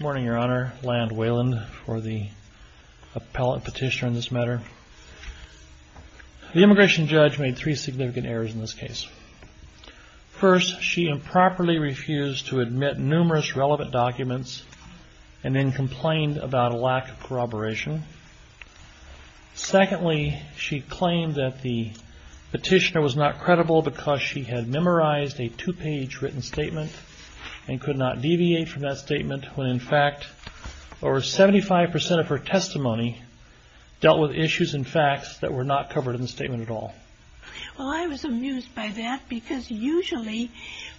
Morning, Your Honor. Land Weyland for the appellate petitioner in this matter. The immigration judge made three significant errors in this case. First, she improperly refused to admit numerous relevant documents and then complained about a lack of corroboration. Secondly, she claimed that the petitioner was not credible because she had memorized a two-page written statement and could not deviate from that statement when in fact over 75% of her testimony dealt with issues and facts that were not covered in the statement at all. Well, I was amused by that because usually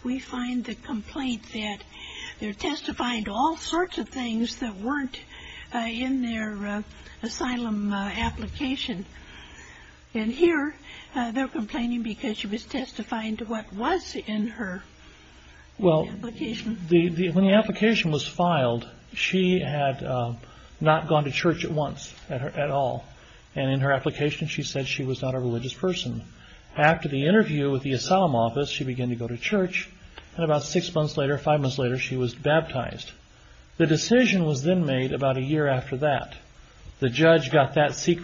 we find the complaint that they're testifying to all sorts of things that weren't in their asylum application. And here, they're complaining because she was testifying to what was in her application. Well, when the application was filed, she had not gone to church at once at all. And in her application, she said she was not a religious person. After the interview with the asylum office, she began to go to church and about six months later, five months later, she was baptized. The decision was then made about a year after that. The judge got that to church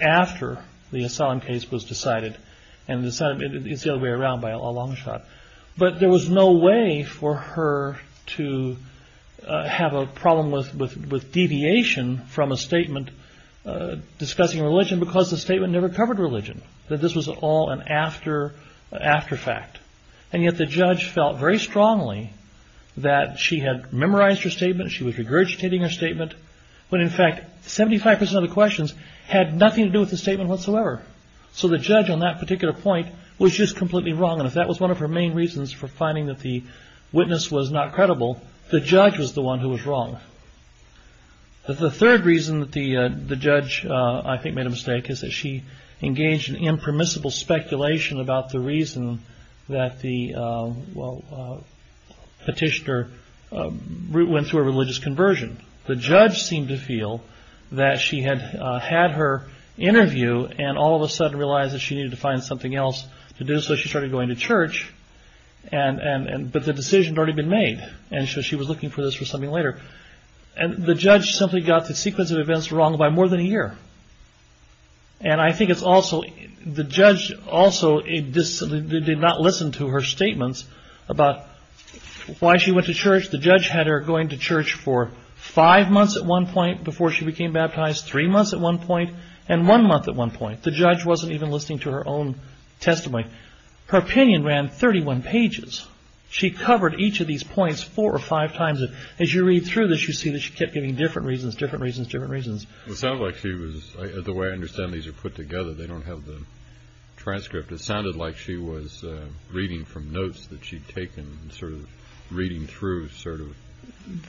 after the asylum case was decided. And it's the other way around by a long shot. But there was no way for her to have a problem with deviation from a statement discussing religion because the statement never covered religion, that this was all an after fact. And yet the judge felt very strongly that she had memorized her statement, she was regurgitating her statement, when in fact, 75% of the questions had nothing to do with the statement whatsoever. So the judge on that particular point was just completely wrong. And if that was one of her main reasons for finding that the witness was not credible, the judge was the one who was wrong. The third reason that the judge, I think, made a mistake is that she engaged in impermissible speculation about the reason that the petitioner went through a religious conversion. The judge seemed to feel that she had had her interview and all of a sudden realized that she needed to find something else to do, so she started going to church. But the decision had already been made, and so she was looking for this for something later. And the judge simply got the sequence of events wrong by more than a year. And I think it's also, the judge also did not listen to her statements about why she went to church. The judge had her going to church for five months at one point before she became baptized, three months at one point, and one month at one point. The judge wasn't even listening to her own testimony. Her opinion ran 31 pages. She covered each of these points four or five times. As you read through this, you see that she kept giving different reasons, different reasons, different reasons. It sounds like she was, the way I understand these are put together, they don't have the transcript. It sounded like she was reading from notes that she'd taken, sort of reading through, sort of,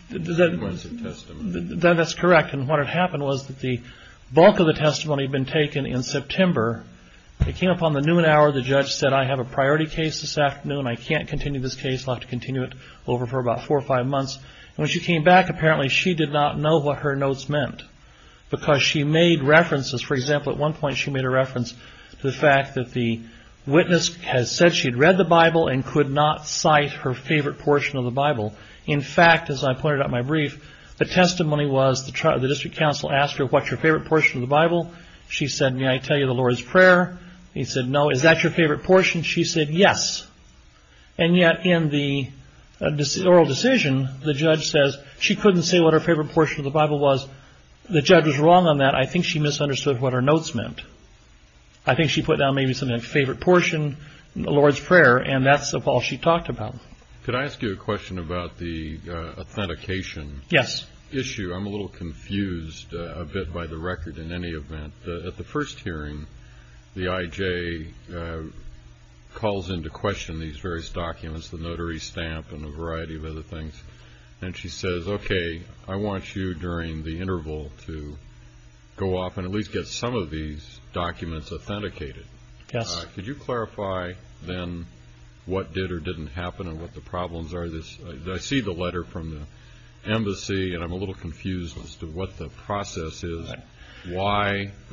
the sequence of testimony. That's correct. And what had happened was that the bulk of the testimony had been taken in September. It came upon the noon hour. The judge said, I have a priority case this afternoon. I can't continue this case. I'll have to continue it over for about four or five months. When she came back, apparently she did not know what her notes meant because she made references. For example, at one point she made a reference to the fact that the witness had said she'd read the Bible and could not cite her favorite portion of the Bible. In fact, as I pointed out in my brief, the testimony was the district counsel asked her, what's your favorite portion of the Bible? She said, may I tell you the Lord's Prayer? He said, no. Is that your favorite portion? She said, yes. And yet in the oral decision, the judge says she couldn't say what her favorite portion of the Bible was. The judge was wrong on that. I think she misunderstood what her notes meant. I think she put down maybe something like favorite portion, the Lord's Prayer, and that's all she talked about. Could I ask you a question about the authentication issue? I'm a little confused a bit by the record in any event. At the first hearing, the IJ calls into question these various documents, the notary stamp and a variety of other things. And she says, OK, I want you during the interval to go off and at least get some of these documents authenticated. Yes. Could you clarify then what did or didn't happen and what the problems are? I see the why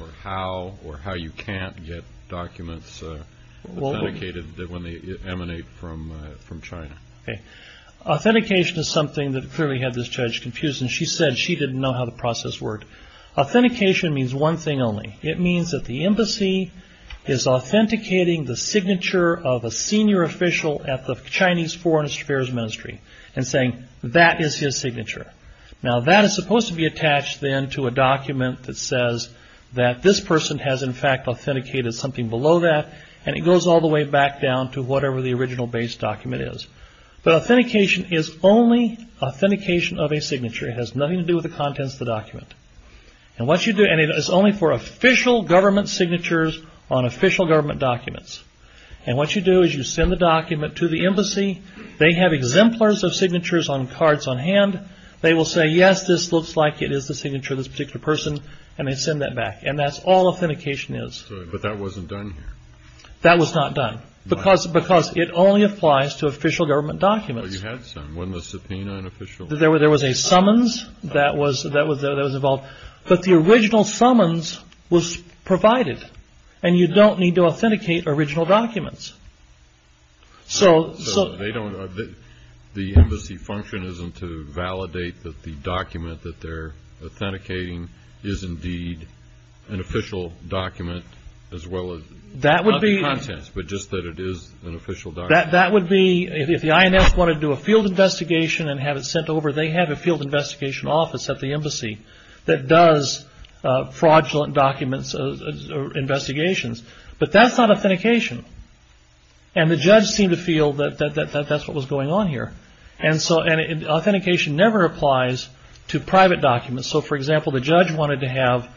or how or how you can't get documents authenticated when they emanate from China. Authentication is something that clearly had this judge confused and she said she didn't know how the process worked. Authentication means one thing only. It means that the embassy is authenticating the signature of a senior official at the Chinese Foreign Affairs Ministry and saying that is his signature. Now, that is supposed to be attached then to a document that says that this person has in fact authenticated something below that and it goes all the way back down to whatever the original base document is. But authentication is only authentication of a signature. It has nothing to do with the contents of the document. And what you do and it is only for official government signatures on official government documents. And what you do is you send the document to the embassy. They have exemplars of signatures on cards on hand. They will say, yes, this looks like it is the signature of this particular person. And they send that back. And that's all authentication is. But that wasn't done. That was not done because because it only applies to official government documents. You had some when the subpoena and official there were there was a summons that was that was that was involved. But the original summons was provided and you don't need to authenticate original documents. So so they don't know that the embassy function isn't to validate that the document that they're authenticating is indeed an official document as well as that would be content. But just that it is an official that that would be if the INS wanted to do a field investigation and have it sent over, they have a field investigation office at the embassy that does fraudulent documents or investigations. But that's not authentication. And the judge seemed to feel that that's what was going on here. And so authentication never applies to private documents. So, for example, the judge wanted to have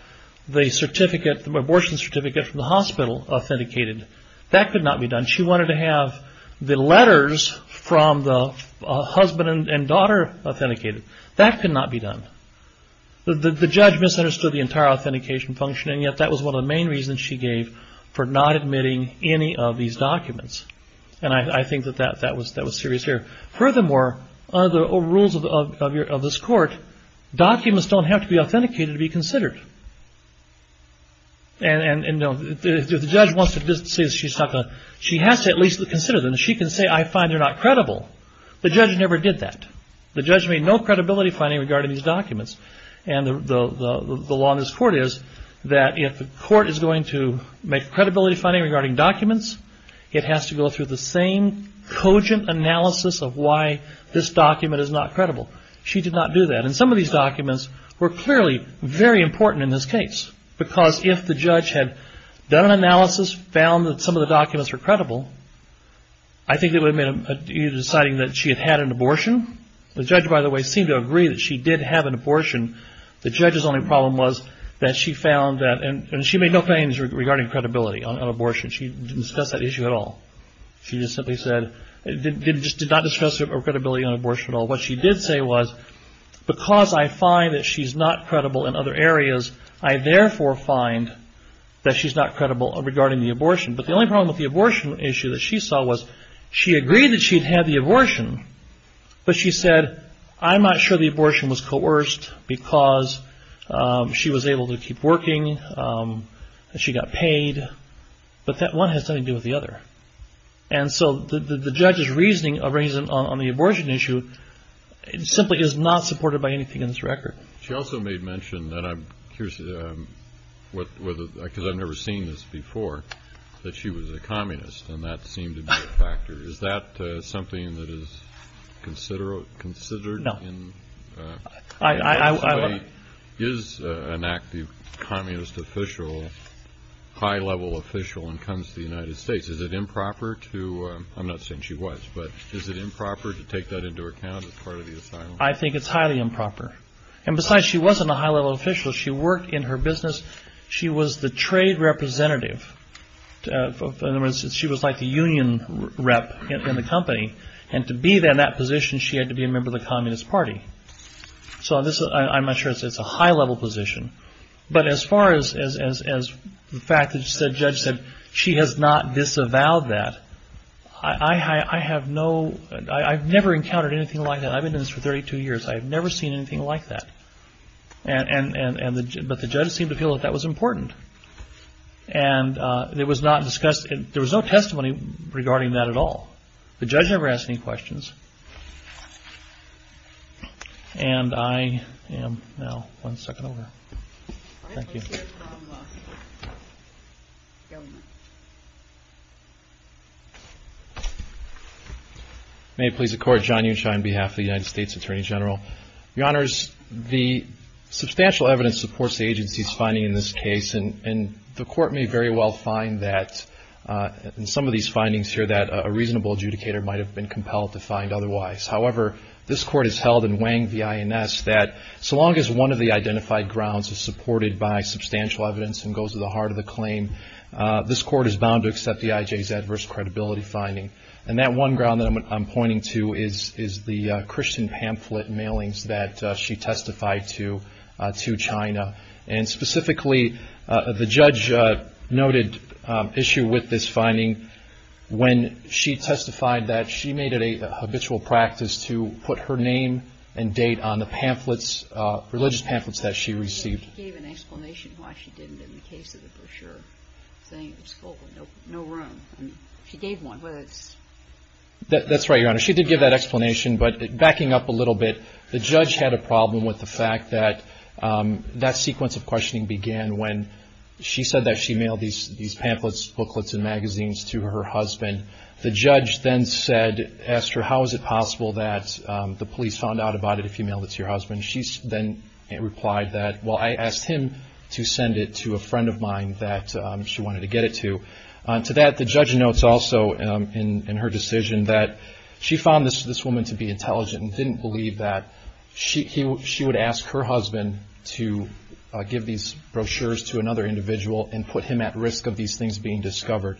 the certificate, the abortion certificate from the hospital authenticated. That could not be done. She wanted to have the letters from the husband and daughter authenticated. That could not be done. The judge misunderstood the entire authentication function. And yet that was one of the main reasons she gave for not admitting any of these documents. And I think that that that was that was serious here. Furthermore, under the rules of this court, documents don't have to be authenticated to be considered. And if the judge wants to say she has to at least consider them, she can say, I find they're not credible. The judge never did that. The judge made no credibility finding regarding these documents. And the law in this court is that if the court is going to make credibility finding regarding documents, it has to go through the same cogent analysis of why this document is not credible. She did not do that. And some of these documents were clearly very important in this case, because if the judge had done an analysis, found that some of the documents were credible, I think they would have made a decision deciding that she had had an abortion. The judge, by the way, seemed to agree that she did have an abortion. The judge's only problem was that she found that and she made no claims regarding credibility on abortion. She didn't discuss that issue at all. She just simply said it just did not discuss her credibility on abortion at all. What she did say was because I find that she's not credible in other areas, I therefore find that she's not credible regarding the abortion. But the only problem with the abortion issue that she saw was she agreed that she'd had the abortion, but she said, I'm not sure the abortion was coerced because she was able to keep working and she got paid. But that one has nothing to do with the other. And so the judge's reasoning on the abortion issue simply is not supported by anything in this record. She also made mention that I'm curious, because I've never seen this before, that she was a communist and that seemed to be a factor. Is that something that is considered in the way is an active communist official, high level official and comes to the United States? Is it improper to, I'm not saying she was, but is it improper to take that into account as part of the asylum? I think it's highly improper. And besides, she wasn't a high level official. She worked in her business. She was the trade representative. In other words, she was like the union rep in the company. And to be there in that position, she had to be a member of the Communist Party. So I'm not sure it's a high level position. But as far as the fact that the judge said she has not disavowed that, I have no, I've never encountered anything like that. I've been doing this for 32 years. I've never seen anything like that. And but the judge seemed to feel that that was important. And it was not discussed, there was no testimony regarding that at all. The judge never asked any questions. And I am now, one second over, thank you. May it please the court, John Unshine on behalf of the United States Attorney General. Your honors, the substantial evidence supports the agency's finding in this case. And the court may very well find that in some of these findings here that a reasonable adjudicator might have been compelled to find otherwise. However, this court has held in Wang v. INS that so long as one of the identified grounds is supported by substantial evidence and goes to the heart of the claim, this court is bound to accept the IJ's adverse credibility finding. And that one ground that I'm pointing to is the Christian pamphlet mailings that she testified to, to China. And specifically, the judge noted issue with this finding when she testified that she made it a habitual practice to put her name and date on the pamphlets, religious pamphlets that she received. She gave an explanation why she didn't in the case of the brochure saying it was full, no room. She gave one, whether it's. That's right, your honor. She did give that explanation. But backing up a little bit, the judge had a problem with the fact that that sequence of questioning began when she said that she mailed these pamphlets, booklets and magazines to her husband. The judge then said, asked her, how is it possible that the police found out about it if you mailed it to your husband? She then replied that, well, I asked him to send it to a friend of mine that she wanted to get it to. To that, the judge notes also in her decision that she found this woman to be intelligent and didn't believe that she would ask her husband to give these brochures to another individual and put him at risk of these things being discovered.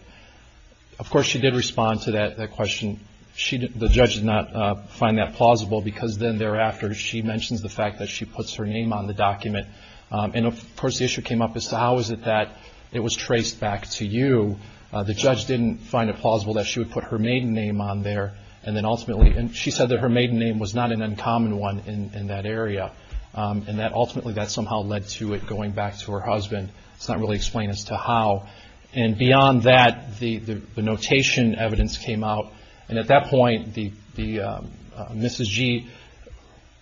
Of course, she did respond to that question. The judge did not find that plausible because then thereafter, she mentions the fact that she puts her name on the document. And of course, the issue came up as to how is it that it was traced back to you? The judge didn't find it plausible that she would put her maiden name on there. And then ultimately, and she said that her maiden name was not an uncommon one in that area. And that ultimately, that somehow led to it going back to her husband. It's not really explained as to how. And beyond that, the notation evidence came out. And at that point, Mrs. Gee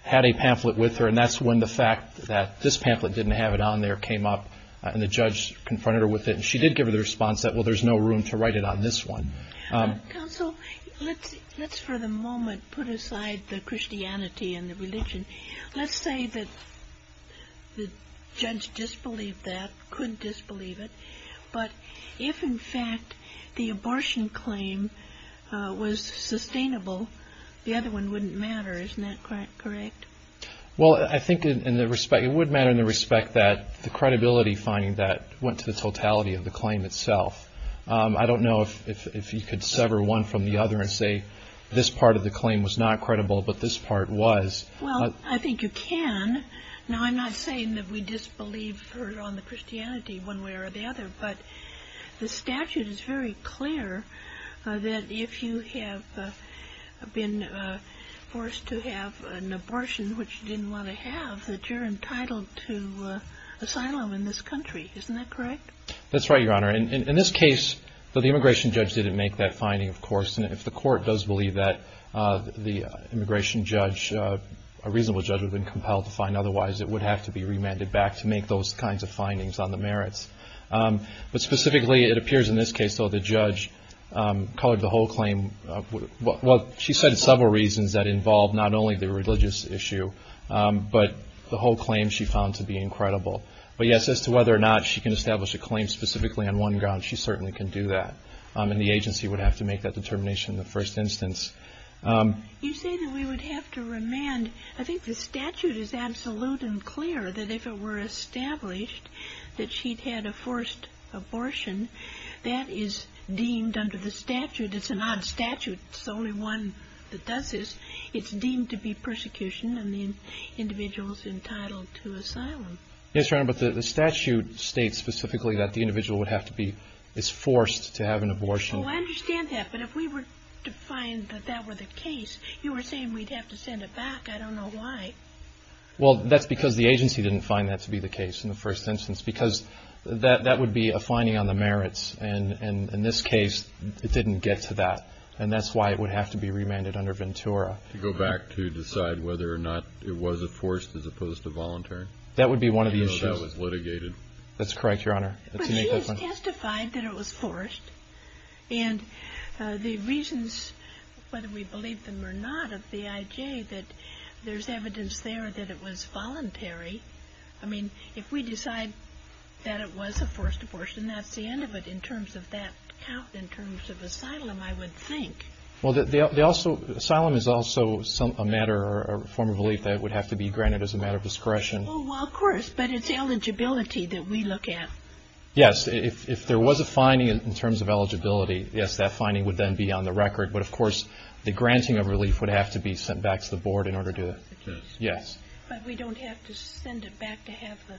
had a pamphlet with her. And that's when the fact that this pamphlet didn't have it on there came up and the judge confronted her with it. She did give her the response that, well, there's no room to write it on this one. Counsel, let's for the moment put aside the Christianity and the religion. Let's say that the judge disbelieved that, couldn't disbelieve it. But if, in fact, the abortion claim was sustainable, the other one wouldn't matter. Isn't that correct? Well, I think it would matter in the respect that the credibility finding that went to the totality of the claim itself. I don't know if you could sever one from the other and say this part of the claim was not credible, but this part was. Well, I think you can. Now, I'm not saying that we disbelieve her on the Christianity one way or the other, but the statute is very clear that if you have been forced to have an abortion, which you didn't want to have, that you're entitled to asylum in this country. Isn't that correct? That's right, Your Honor. And in this case, the immigration judge didn't make that finding, of course. And if the court does believe that the immigration judge, a reasonable judge, would have been compelled to find otherwise, it would have to be remanded back to make those kinds of findings on the merits. But specifically, it appears in this case, though, the judge colored the whole claim. Well, she said several reasons that involved not only the religious issue, but the whole claim she found to be incredible. But yes, as to whether or not she can establish a claim specifically on one ground, she certainly can do that. And the agency would have to make that determination in the first instance. You say that we would have to remand. I think the statute is absolute and clear that if it were established that she'd had a forced abortion, that is deemed under the statute. It's an odd statute. It's the only one that does this. It's deemed to be persecution and the individual's entitled to asylum. Yes, Your Honor, but the statute states specifically that the individual would have to be, is forced to have an abortion. Well, I understand that. But if we were to find that that were the case, you were saying we'd have to send it back. I don't know why. Well, that's because the agency didn't find that to be the case in the first instance, because that would be a finding on the merits. And in this case, it didn't get to that. And that's why it would have to be remanded under Ventura. To go back to decide whether or not it was a forced as opposed to voluntary? That would be one of the issues that was litigated. That's correct, Your Honor. But he has testified that it was forced. And the reasons, whether we believe them or not, of the IJ, that there's evidence there that it was voluntary. I mean, if we decide that it was a forced abortion, that's the end of it in terms of that count, in terms of asylum, I would think. Well, asylum is also a matter or a form of relief that would have to be granted as a discretion. Oh, well, of course. But it's eligibility that we look at. Yes. If there was a finding in terms of eligibility, yes, that finding would then be on the record. But of course, the granting of relief would have to be sent back to the board in order to, yes. But we don't have to send it back to have the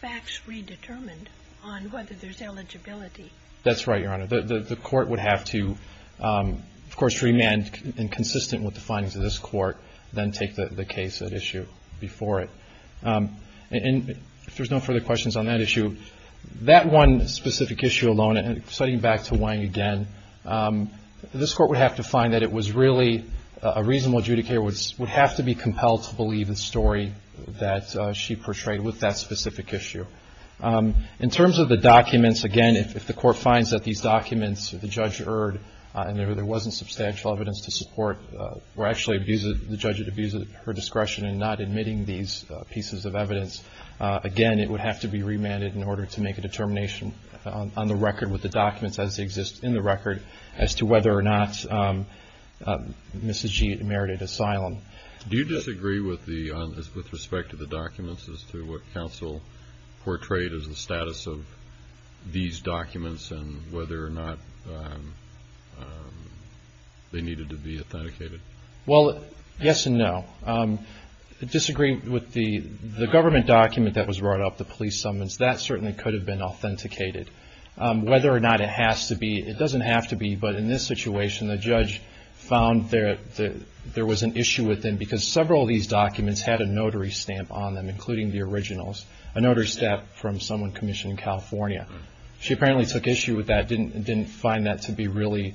facts redetermined on whether there's eligibility. That's right, Your Honor. The court would have to, of course, remand and consistent with the findings of this court, then take the case at issue before it. And if there's no further questions on that issue, that one specific issue alone, and citing back to Wang again, this court would have to find that it was really a reasonable adjudicator would have to be compelled to believe the story that she portrayed with that specific issue. In terms of the documents, again, if the court finds that these documents, the judge erred and there wasn't substantial evidence to support, or actually the judge abused her discretion in not admitting these pieces of evidence, again, it would have to be remanded in order to make a determination on the record with the documents as they exist in the record as to whether or not Mrs. G merited asylum. Do you disagree with the, with respect to the documents as to what counsel portrayed as the status of these documents and whether or not they needed to be authenticated? Well, yes and no. Disagree with the, the government document that was brought up, the police summons, that certainly could have been authenticated. Whether or not it has to be, it doesn't have to be, but in this situation, the judge found that there was an issue with them because several of these documents had a notary stamp on them, including the originals, a notary stamp from someone commissioned in California. She apparently took issue with that. Didn't, didn't find that to be really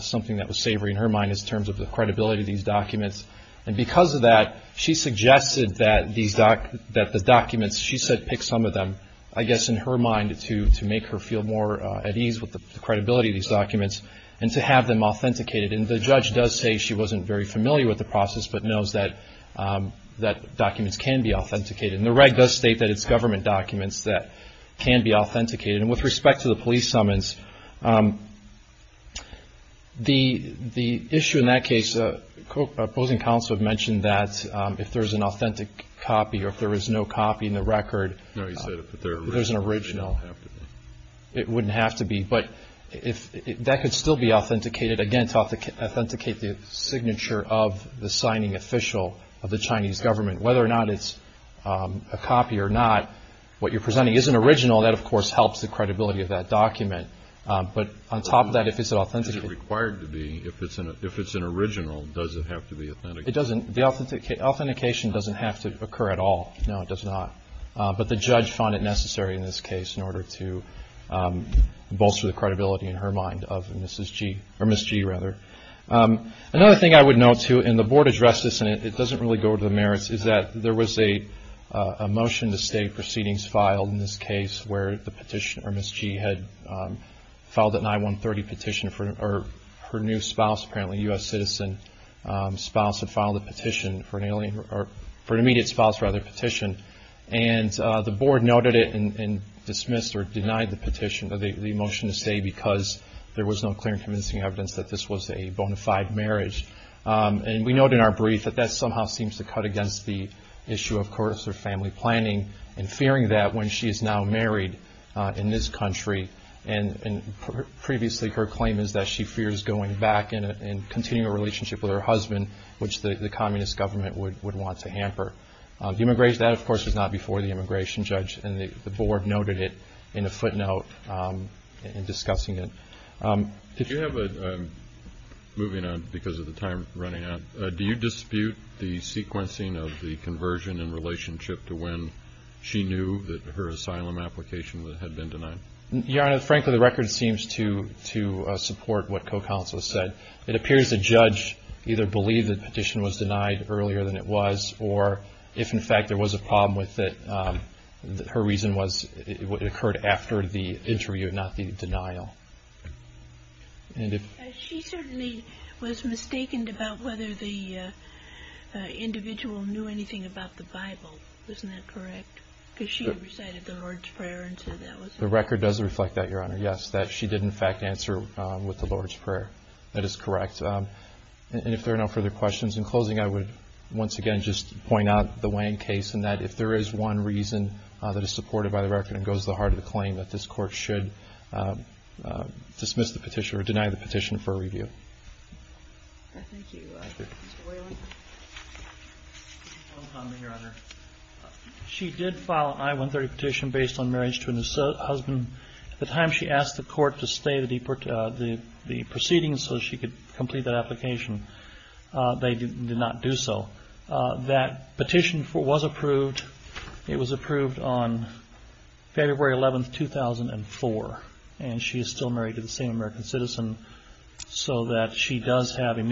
something that was savory in her mind as terms of the credibility of these documents. And because of that, she suggested that these doc, that the documents, she said, pick some of them, I guess, in her mind, to, to make her feel more at ease with the credibility of these documents and to have them authenticated. And the judge does say she wasn't very familiar with the process, but knows that, that documents can be authenticated. And the reg does state that it's government documents that can be authenticated. And with respect to the police summons, the, the issue in that case, opposing counsel have mentioned that if there's an authentic copy or if there is no copy in the record, there's an original, it wouldn't have to be, but if that could still be authenticated, again, to authenticate the signature of the signing official of the Chinese government, whether or not it's a copy or not, what you're presenting is an original. That, of course, helps the credibility of that document. But on top of that, if it's an authentic. Is it required to be, if it's an, if it's an original, does it have to be authenticated? It doesn't, the authentication doesn't have to occur at all. No, it does not. But the judge found it necessary in this case in order to bolster the credibility in her mind of Mrs. G or Ms. G rather. Another thing I would note too, and the board addressed this and it doesn't really go to the merits, is that there was a, a motion to state proceedings filed in this case where the petitioner, or Ms. G, had filed an I-130 petition for her new spouse, apparently a U.S. citizen spouse, had filed a petition for an alien, or for an immediate spouse, rather, petition. And the board noted it and dismissed or denied the petition, the motion to state, because there was no clear and convincing evidence that this was a bona fide marriage. And we note in our brief that that somehow seems to cut against the issue of course, of family planning and fearing that when she is now married in this country, and, and previously her claim is that she fears going back in a, in continuing a relationship with her husband, which the communist government would, would want to hamper. The immigration, that of course was not before the immigration judge and the board noted it in a footnote in discussing it. Did you have a, moving on because of the time running out, do you dispute the conversion in relationship to when she knew that her asylum application that had been denied? Your Honor, frankly, the record seems to, to support what co-counsel has said. It appears the judge either believed the petition was denied earlier than it was, or if in fact there was a problem with it, her reason was it occurred after the interview, not the denial. And if... And if there are no further questions in closing, I would once again, just point out the Wang case and that if there is one reason that is supported by the record and goes to the heart of the claim, that this court should dismiss the petition or deny the petition for review. Thank you. Your Honor, she did file an I-130 petition based on marriage to a new husband. At the time she asked the court to stay the proceedings so she could complete that application, they did not do so. That petition was approved. It was approved on February 11th, 2004. And she is still married to the same American citizen so that she does have a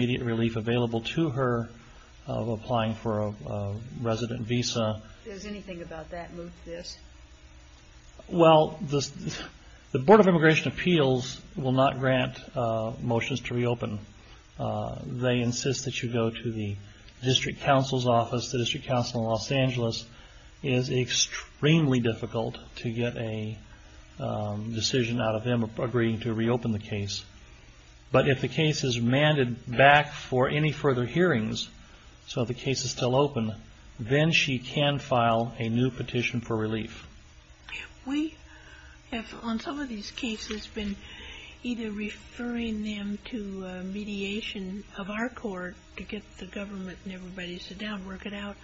resident visa. Is anything about that moved to this? Well, the Board of Immigration Appeals will not grant motions to reopen. They insist that you go to the district counsel's office. The district counsel in Los Angeles is extremely difficult to get a decision out of them agreeing to reopen the case. But if the case is manned back for any further hearings, so the case is still open, then she can file a new petition for relief. We have, on some of these cases, been either referring them to mediation of our court to get the government and everybody to sit down and work it out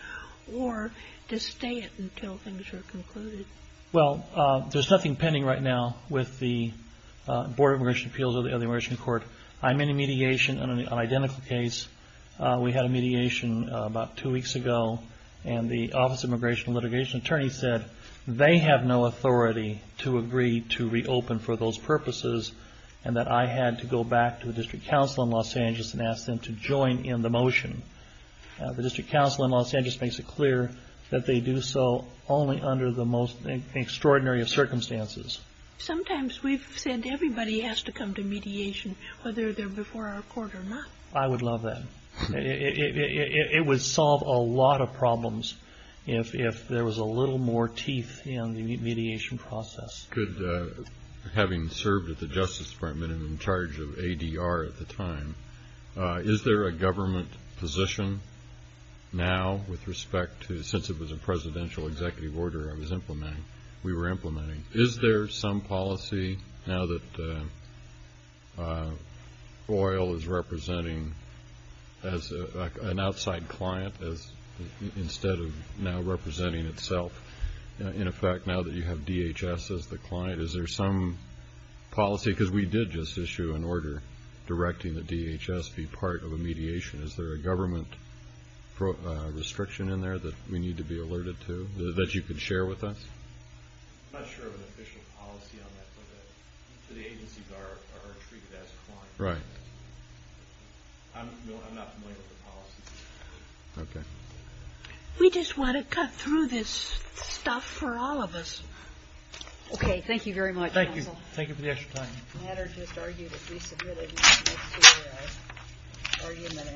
or to stay it until things are concluded. Well, there's nothing pending right now with the Board of Immigration Appeals of the Immigration Court. I'm in a mediation on an identical case. We had a mediation about two weeks ago, and the Office of Immigration and Litigation Attorney said they have no authority to agree to reopen for those purposes, and that I had to go back to the district counsel in Los Angeles and ask them to join in the motion. The district counsel in Los Angeles makes it clear that they do so only under the most extraordinary of circumstances. Sometimes we've said everybody has to come to mediation, whether they're before our court or not. I would love that. It would solve a lot of problems if there was a little more teeth in the mediation process. Could, having served at the Justice Department and in charge of ADR at the time, is there a government position now with respect to, since it was a presidential executive order I was implementing, we were implementing, is there some policy now that OIL is representing as an outside client instead of now representing itself, in effect, now that you have DHS as the client? Is there some policy, because we did just issue an order directing the DHS be part of a mediation, is there a government restriction in there that we need to be alerted to, that you could share with us? I'm not sure of an official policy on that, but the agencies are treated as clients. Right. I'm not familiar with the policy. Okay. We just want to cut through this stuff for all of us. Okay. Thank you very much. Thank you. Thank you for the extra time. The matter just argued that we submitted an extra argument and so on.